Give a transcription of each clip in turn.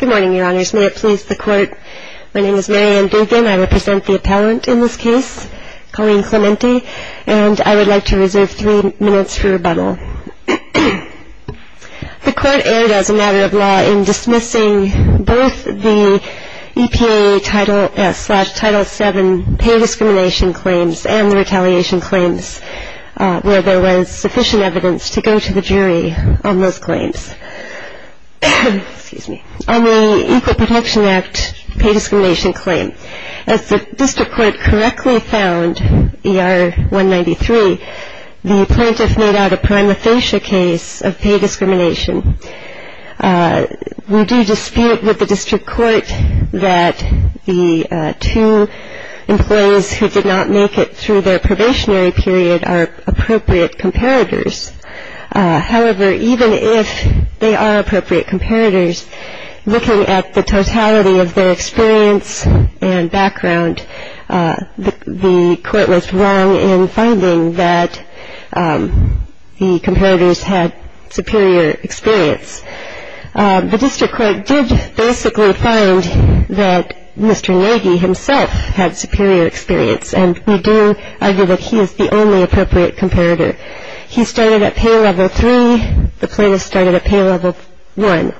Good morning, Your Honors. May it please the Court, my name is Mary Ann Dugan. I represent the appellant in this case, Colleen Clemente. And I would like to reserve three minutes for rebuttal. The Court erred as a matter of law in dismissing both the EPA Title 7 pay discrimination claims and the retaliation claims, where there was sufficient evidence to go to the jury on those claims. On the Equal Protection Act pay discrimination claim, as the District Court correctly found, ER 193, the plaintiff made out a prima facie case of pay discrimination. We do dispute with the District Court that the two employees who did not make it through their probationary period are appropriate comparators. However, even if they are appropriate comparators, looking at the totality of their experience and background, the Court was wrong in finding that the comparators had superior experience. The District Court did basically find that Mr. Nagy himself had superior experience, and we do argue that he is the only appropriate comparator. He started at pay level 3, the plaintiff started at pay level 1.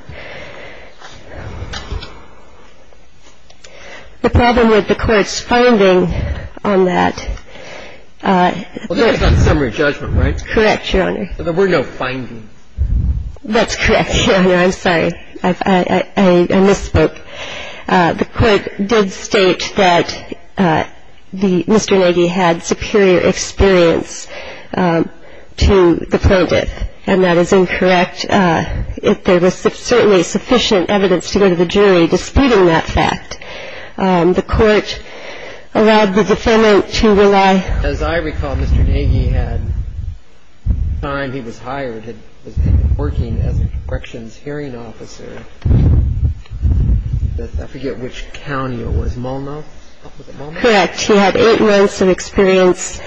The problem with the Court's finding on that ---- Well, that was on summary judgment, right? Correct, Your Honor. There were no findings. That's correct, Your Honor. I'm sorry. I misspoke. The Court did state that Mr. Nagy had superior experience to the plaintiff, and that is incorrect. There was certainly sufficient evidence to go to the jury disputing that fact. The Court allowed the defendant to rely ---- As I recall, Mr. Nagy had time. He was hired. He was working as a corrections hearing officer. I forget which county it was. Multnomah? Correct. He had eight months of experience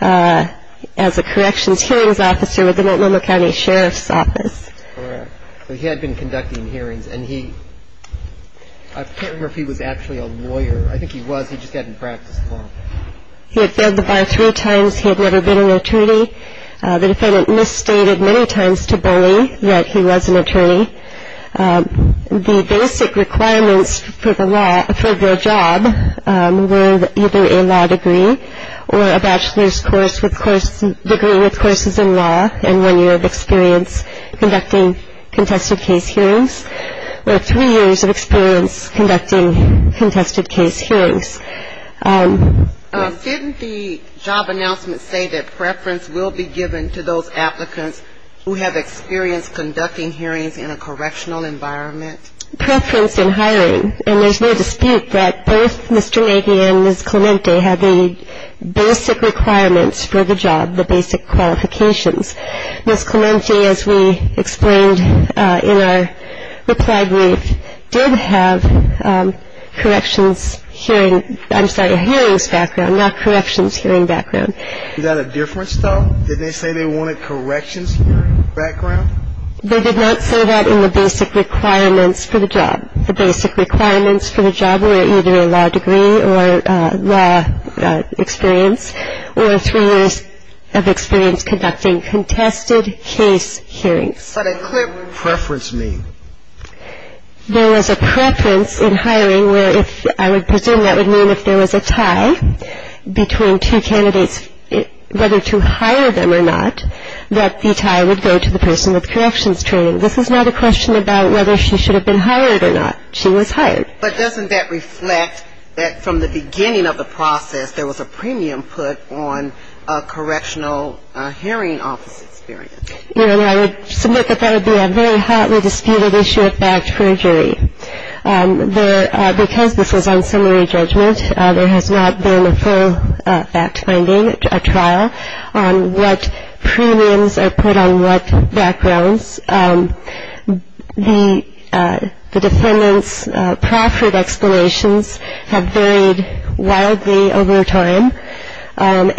as a corrections hearings officer with the Multnomah County Sheriff's Office. Correct. So he had been conducting hearings, and he ---- I can't remember if he was actually a lawyer. I think he was. He just hadn't practiced law. He had failed the bar three times. He had never been an attorney. The basic requirements for their job were either a law degree or a bachelor's degree with courses in law and one year of experience conducting contested case hearings, or three years of experience conducting contested case hearings. Didn't the job announcement say that preference will be given to those applicants who have experience conducting hearings in a correctional environment? Preference in hiring. And there's no dispute that both Mr. Nagy and Ms. Clemente had the basic requirements for the job, the basic qualifications. Ms. Clemente, as we explained in our reply brief, did have corrections hearing ---- I'm sorry, hearings background, not corrections hearing background. Was that a difference, though? Did they say they wanted corrections hearing background? They did not say that in the basic requirements for the job. The basic requirements for the job were either a law degree or law experience or three years of experience conducting contested case hearings. But a clear preference mean? There was a preference in hiring where if ---- I would presume that would mean if there was a tie between two candidates, whether to hire them or not, that the tie would go to the person with corrections training. This is not a question about whether she should have been hired or not. She was hired. But doesn't that reflect that from the beginning of the process, there was a premium put on a correctional hearing office experience? You know, I would submit that that would be a very hotly disputed issue of fact for a jury. Because this was on summary judgment, there has not been a full fact-finding trial on what premiums are put on what backgrounds. The defendant's proffered explanations have varied wildly over time, and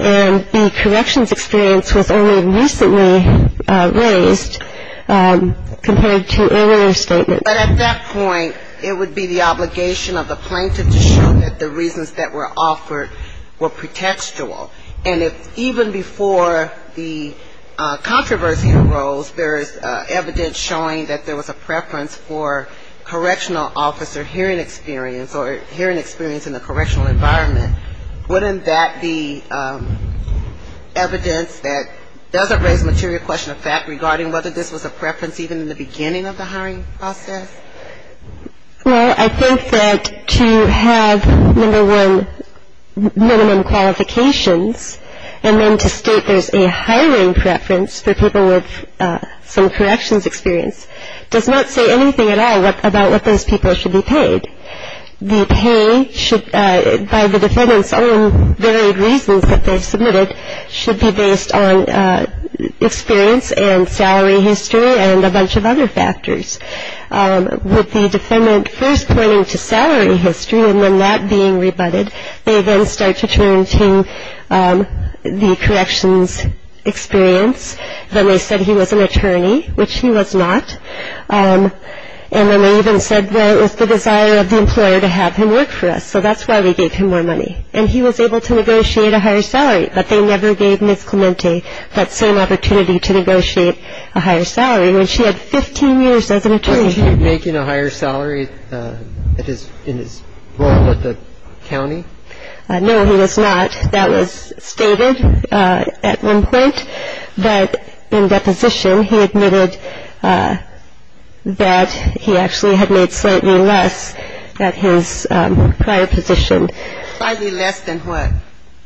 the corrections experience was only recently raised compared to earlier statements. But at that point, it would be the obligation of the plaintiff to show that the reasons that were offered were pretextual. And if even before the controversy arose, there is evidence showing that there was a preference for correctional officer hearing experience or hearing experience in the correctional environment, wouldn't that be evidence that doesn't raise the material question of fact regarding whether this was a preference even in the beginning of the hiring process? Well, I think that to have, number one, minimum qualifications, and then to state there's a hiring preference for people with some corrections experience does not say anything at all about what those people should be paid. The pay should, by the defendant's own varied reasons that they submitted, should be based on experience and salary history and a bunch of other factors. With the defendant first pointing to salary history and then that being rebutted, they then start to turn to the corrections experience. Then they said he was an attorney, which he was not. And then they even said there was the desire of the employer to have him work for us, so that's why we gave him more money. And he was able to negotiate a higher salary, but they never gave Ms. Clemente that same opportunity to negotiate a higher salary, when she had 15 years as an attorney. Was he making a higher salary in his role at the county? No, he was not. That was stated at one point. But in deposition, he admitted that he actually had made slightly less at his prior position. Slightly less than what?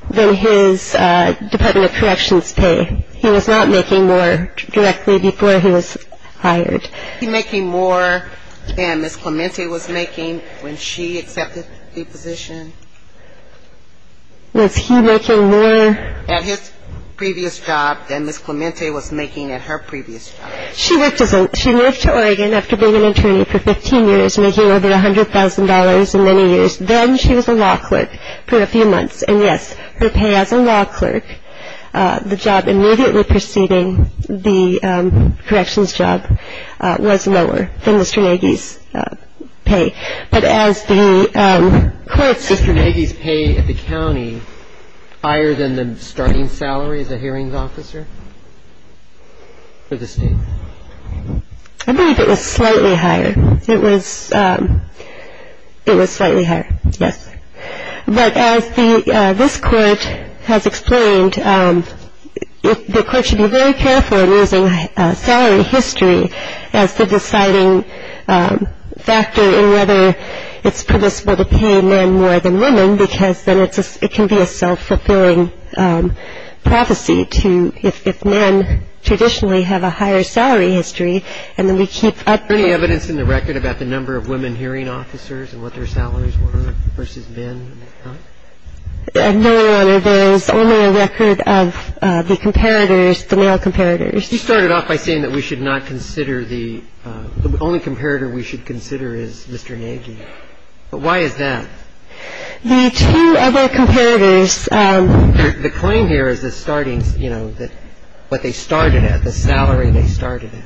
Than his Department of Corrections pay. He was not making more directly before he was hired. Was he making more than Ms. Clemente was making when she accepted the position? Was he making more? At his previous job than Ms. Clemente was making at her previous job. She moved to Oregon after being an attorney for 15 years, making over $100,000 in many years. Then she was a law clerk for a few months. And, yes, her pay as a law clerk, the job immediately preceding the corrections job, was lower than Mr. Nagy's pay. Mr. Nagy's pay at the county, higher than the starting salary as a hearings officer for the state? I believe it was slightly higher. It was slightly higher, yes. But as this Court has explained, the Court should be very careful in using salary history as the deciding factor in whether it's permissible to pay men more than women because then it can be a self-fulfilling prophecy to, if men traditionally have a higher salary history, and then we keep up the rate. Is there any evidence in the record about the number of women hearing officers and what their salaries were versus men? No, Your Honor. There is only a record of the comparators, the male comparators. You started off by saying that we should not consider the — the only comparator we should consider is Mr. Nagy. But why is that? The two other comparators — The claim here is the starting, you know, what they started at, the salary they started at.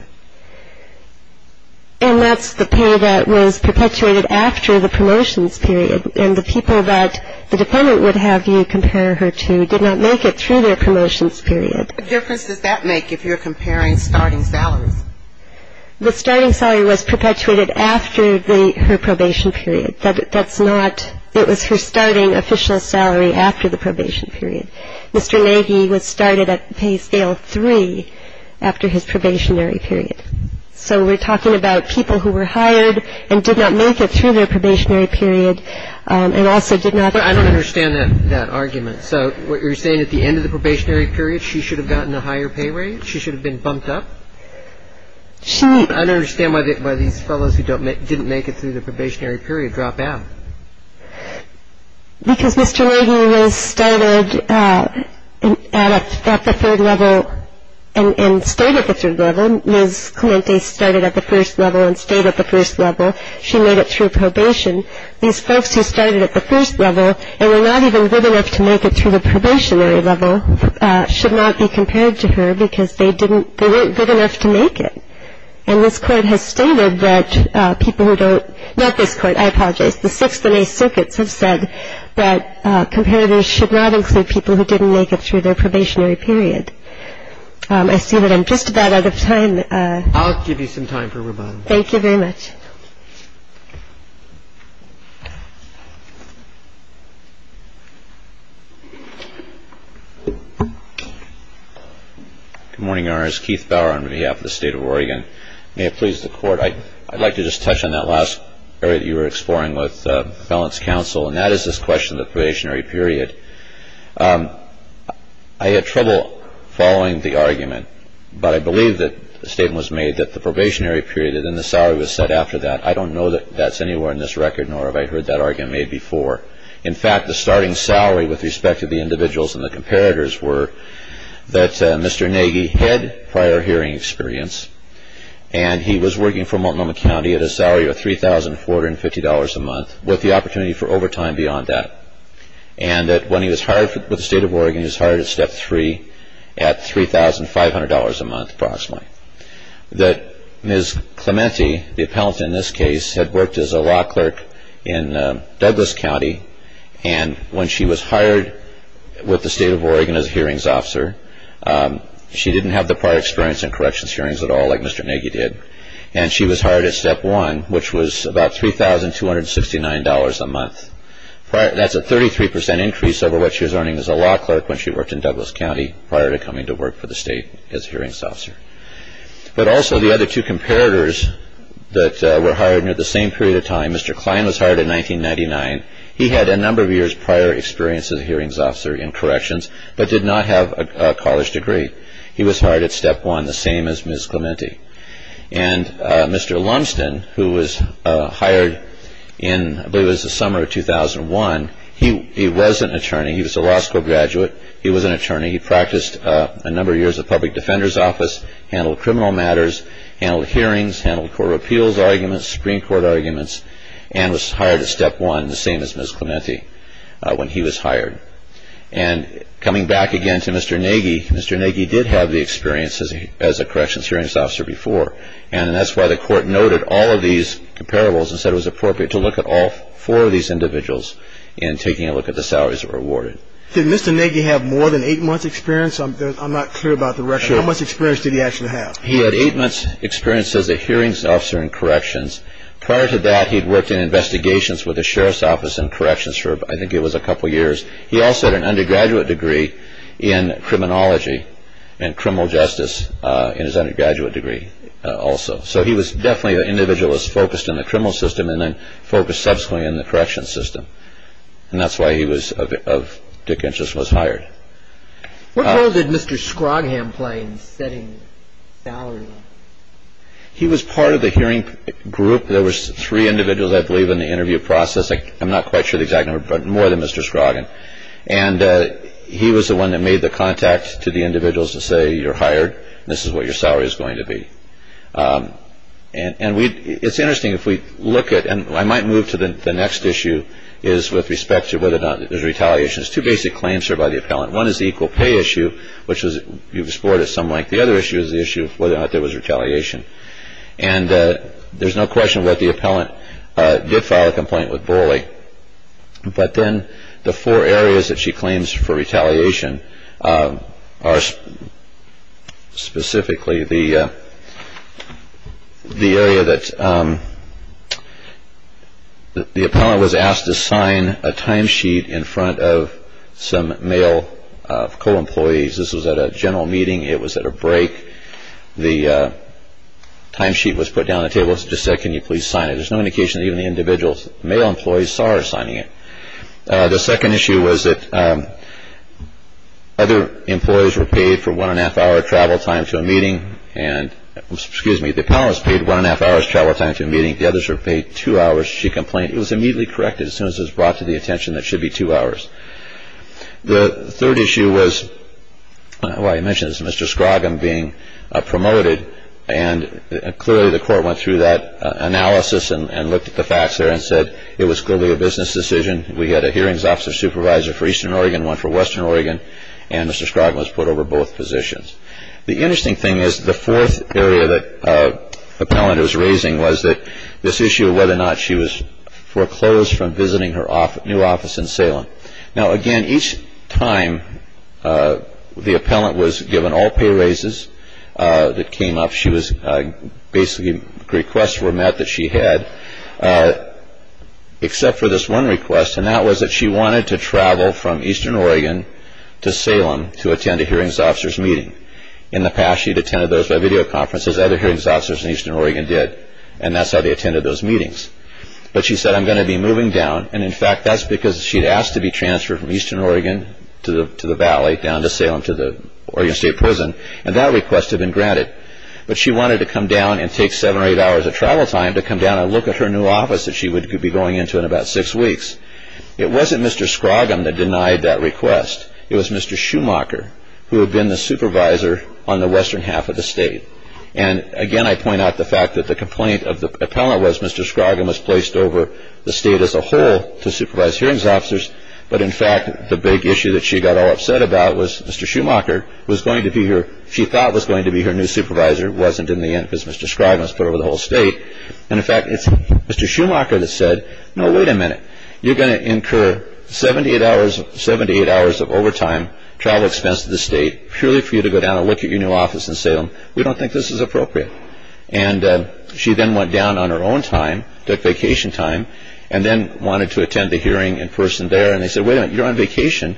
And that's the pay that was perpetuated after the promotions period. And the people that the defendant would have you compare her to did not make it through their promotions period. What difference does that make if you're comparing starting salaries? The starting salary was perpetuated after her probation period. That's not — it was her starting official salary after the probation period. Mr. Nagy was started at pay scale 3 after his probationary period. So we're talking about people who were hired and did not make it through their probationary period and also did not — I don't understand that argument. So what you're saying, at the end of the probationary period, she should have gotten a higher pay rate? She should have been bumped up? She — I don't understand why these fellows who didn't make it through their probationary period drop out. Because Mr. Nagy was started at the third level and stayed at the third level. Ms. Clemente started at the first level and stayed at the first level. She made it through probation. These folks who started at the first level and were not even good enough to make it through the probationary level should not be compared to her because they didn't — they weren't good enough to make it. And this Court has stated that people who don't — not this Court, I apologize. The Sixth and Eighth Circuits have said that comparators should not include people who didn't make it through their probationary period. I see that I'm just about out of time. I'll give you some time for rebuttal. Thank you very much. Good morning, Your Honors. Keith Bauer on behalf of the State of Oregon. May it please the Court, I'd like to just touch on that last area that you were exploring with the felons' counsel, and that is this question of the probationary period. I had trouble following the argument, but I believe that the statement was made that the probationary period and then the salary was set after that. I don't know that that's anywhere in this record, nor have I heard that argument made before. In fact, the starting salary with respect to the individuals and the comparators were that Mr. Nagy had prior hearing experience, and he was working for Multnomah County at a salary of $3,450 a month with the opportunity for overtime beyond that, and that when he was hired with the State of Oregon, he was hired at Step 3 at $3,500 a month approximately. That Ms. Clemente, the appellant in this case, had worked as a law clerk in Douglas County, and when she was hired with the State of Oregon as a hearings officer, she didn't have the prior experience in corrections hearings at all like Mr. Nagy did, and she was hired at Step 1, which was about $3,269 a month. That's a 33% increase over what she was earning as a law clerk when she worked in Douglas County prior to coming to work for the state as hearings officer. But also the other two comparators that were hired near the same period of time, Mr. Klein was hired in 1999. He had a number of years prior experience as a hearings officer in corrections, but did not have a college degree. He was hired at Step 1, the same as Ms. Clemente. And Mr. Lumsden, who was hired in, I believe it was the summer of 2001, he was an attorney. He was a law school graduate. He was an attorney. He practiced a number of years at the Public Defender's Office, handled criminal matters, handled hearings, handled court of appeals arguments, Supreme Court arguments, and was hired at Step 1, the same as Ms. Clemente when he was hired. And coming back again to Mr. Nagy, Mr. Nagy did have the experience as a corrections hearings officer before. And that's why the court noted all of these comparables and said it was appropriate to look at all four of these individuals in taking a look at the salaries that were awarded. Did Mr. Nagy have more than eight months' experience? I'm not clear about the ratio. How much experience did he actually have? He had eight months' experience as a hearings officer in corrections. Prior to that, he had worked in investigations with the sheriff's office in corrections for, I think, it was a couple years. He also had an undergraduate degree in criminology and criminal justice in his undergraduate degree also. So he was definitely an individualist focused in the criminal system and then focused subsequently in the corrections system. And that's why he was of Dickensian was hired. What role did Mr. Scroggham play in setting salaries? He was part of the hearing group. There were three individuals, I believe, in the interview process. I'm not quite sure the exact number, but more than Mr. Scroggham. And he was the one that made the contact to the individuals to say, you're hired, this is what your salary is going to be. And it's interesting if we look at, and I might move to the next issue, is with respect to whether or not there's retaliation. There's two basic claims here by the appellant. One is the equal pay issue, which you've explored at some length. The other issue is the issue of whether or not there was retaliation. And there's no question that the appellant did file a complaint with Borley. But then the four areas that she claims for retaliation are specifically the area that the appellant was asked to sign a timesheet in front of some male co-employees. This was at a general meeting. It was at a break. The timesheet was put down on the table. It just said, can you please sign it? There's no indication that even the individual male employees saw her signing it. The second issue was that other employees were paid for one and a half hour travel time to a meeting. And excuse me, the appellant was paid one and a half hours travel time to a meeting. The others were paid two hours. She complained it was immediately corrected as soon as it was brought to the attention that should be two hours. The third issue was, well, I mentioned this, Mr. Scroggum being promoted. And clearly the court went through that analysis and looked at the facts there and said it was clearly a business decision. We had a hearings officer supervisor for Eastern Oregon, one for Western Oregon. And Mr. Scroggum was put over both positions. The interesting thing is the fourth area that the appellant was raising was that this issue of whether or not she was foreclosed from visiting her new office in Salem. Now, again, each time the appellant was given all pay raises that came up, she was basically requests were met that she had except for this one request. And that was that she wanted to travel from Eastern Oregon to Salem to attend a hearings officer's meeting. In the past, she had attended those by video conferences. Other hearings officers in Eastern Oregon did. And that's how they attended those meetings. But she said, I'm going to be moving down. And, in fact, that's because she had asked to be transferred from Eastern Oregon to the valley, down to Salem, to the Oregon State Prison. And that request had been granted. But she wanted to come down and take seven or eight hours of travel time to come down and look at her new office that she would be going into in about six weeks. It wasn't Mr. Scroggum that denied that request. It was Mr. Schumacher who had been the supervisor on the western half of the state. And, again, I point out the fact that the complaint of the appellant was Mr. Scroggum was placed over the state as a whole to supervise hearings officers. But, in fact, the big issue that she got all upset about was Mr. Schumacher was going to be her – she thought was going to be her new supervisor. It wasn't in the end because Mr. Scroggum was put over the whole state. And, in fact, it's Mr. Schumacher that said, no, wait a minute. You're going to incur seven to eight hours of overtime, travel expense to the state, purely for you to go down and look at your new office in Salem. We don't think this is appropriate. And she then went down on her own time, took vacation time, and then wanted to attend the hearing in person there. And they said, wait a minute. You're on vacation.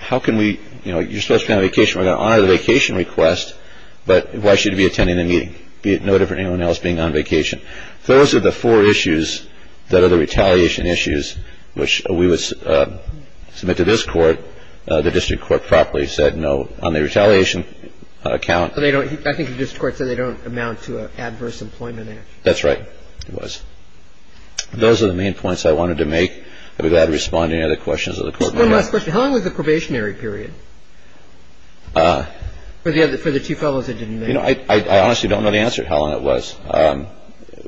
How can we – you know, you're supposed to be on vacation. We're going to honor the vacation request. But why should you be attending the meeting? You're going to incur seven to eight hours of overtime, travel expense to the state, be it no different than anyone else being on vacation. Those are the four issues that are the retaliation issues, which we would submit to this Court. The district court properly said no on the retaliation account. I think the district court said they don't amount to an adverse employment action. That's right. It was. Those are the main points I wanted to make. I'd be glad to respond to any other questions of the Court. One last question. How long was the probationary period for the two fellows that didn't make it? I honestly don't know the answer to how long it was.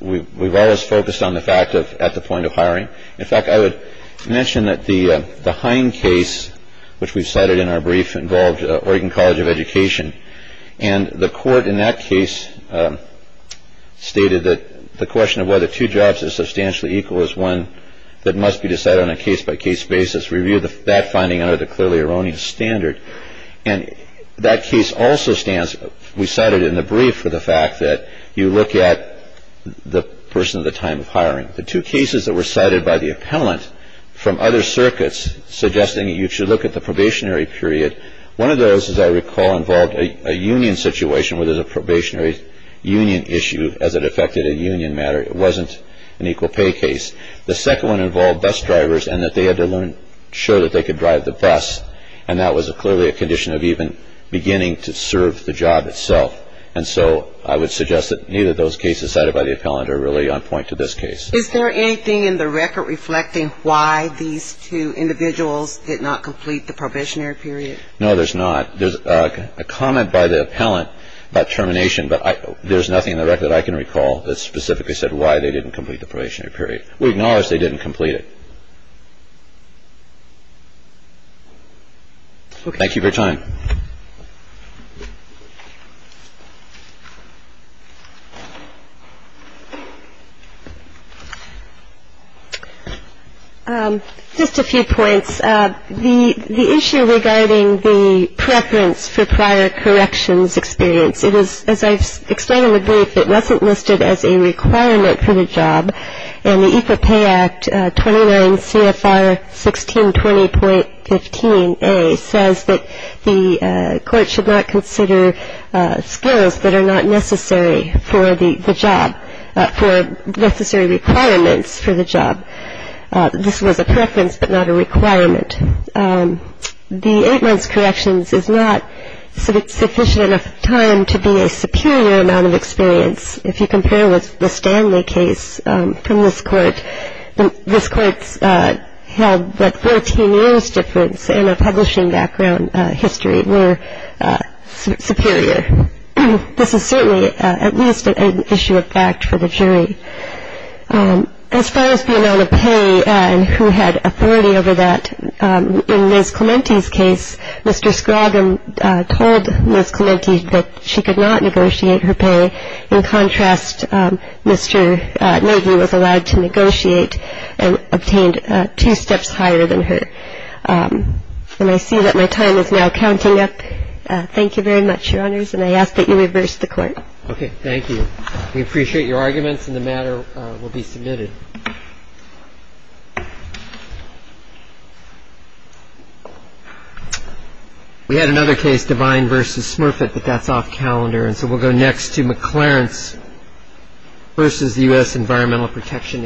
We've always focused on the fact of at the point of hiring. In fact, I would mention that the Hein case, which we cited in our brief, involved Oregon College of Education. And the court in that case stated that the question of whether two jobs are substantially equal is one that must be decided on a case by case basis. Review that finding under the clearly erroneous standard. And that case also stands. We cited in the brief for the fact that you look at the person at the time of hiring. The two cases that were cited by the appellant from other circuits suggesting you should look at the probationary period, one of those, as I recall, involved a union situation where there's a probationary union issue as it affected a union matter. It wasn't an equal pay case. The second one involved bus drivers and that they had to ensure that they could drive the bus. And that was clearly a condition of even beginning to serve the job itself. And so I would suggest that neither of those cases cited by the appellant are really on point to this case. Is there anything in the record reflecting why these two individuals did not complete the probationary period? No, there's not. There's a comment by the appellant about termination, but there's nothing in the record I can recall that specifically said why they didn't complete the probationary period. We acknowledge they didn't complete it. Thank you for your time. Thank you. Just a few points. The issue regarding the preference for prior corrections experience, it is, as I've explained in the brief, it wasn't listed as a requirement for the job. And the Equal Pay Act 29 CFR 1620.15a says that the court should not consider skills that are not necessary for the job, for necessary requirements for the job. This was a preference but not a requirement. The eight months' corrections is not sufficient enough time to be a superior amount of experience. If you compare with the Stanley case from this court, this court held that 14 years' difference in a publishing background history were superior. This is certainly at least an issue of fact for the jury. As far as the amount of pay and who had authority over that, in Ms. Clemente's case, Mr. Scroggins told Ms. Clemente that she could not negotiate her pay. In contrast, Mr. Nagy was allowed to negotiate and obtained two steps higher than her. And I see that my time is now counting up. Thank you very much, Your Honors. And I ask that you reverse the Court. Okay. Thank you. We appreciate your arguments, and the matter will be submitted. We had another case, Devine v. Smurfett, but that's off calendar, and so we'll go next to McClarence v. the U.S. Environmental Protection Agency.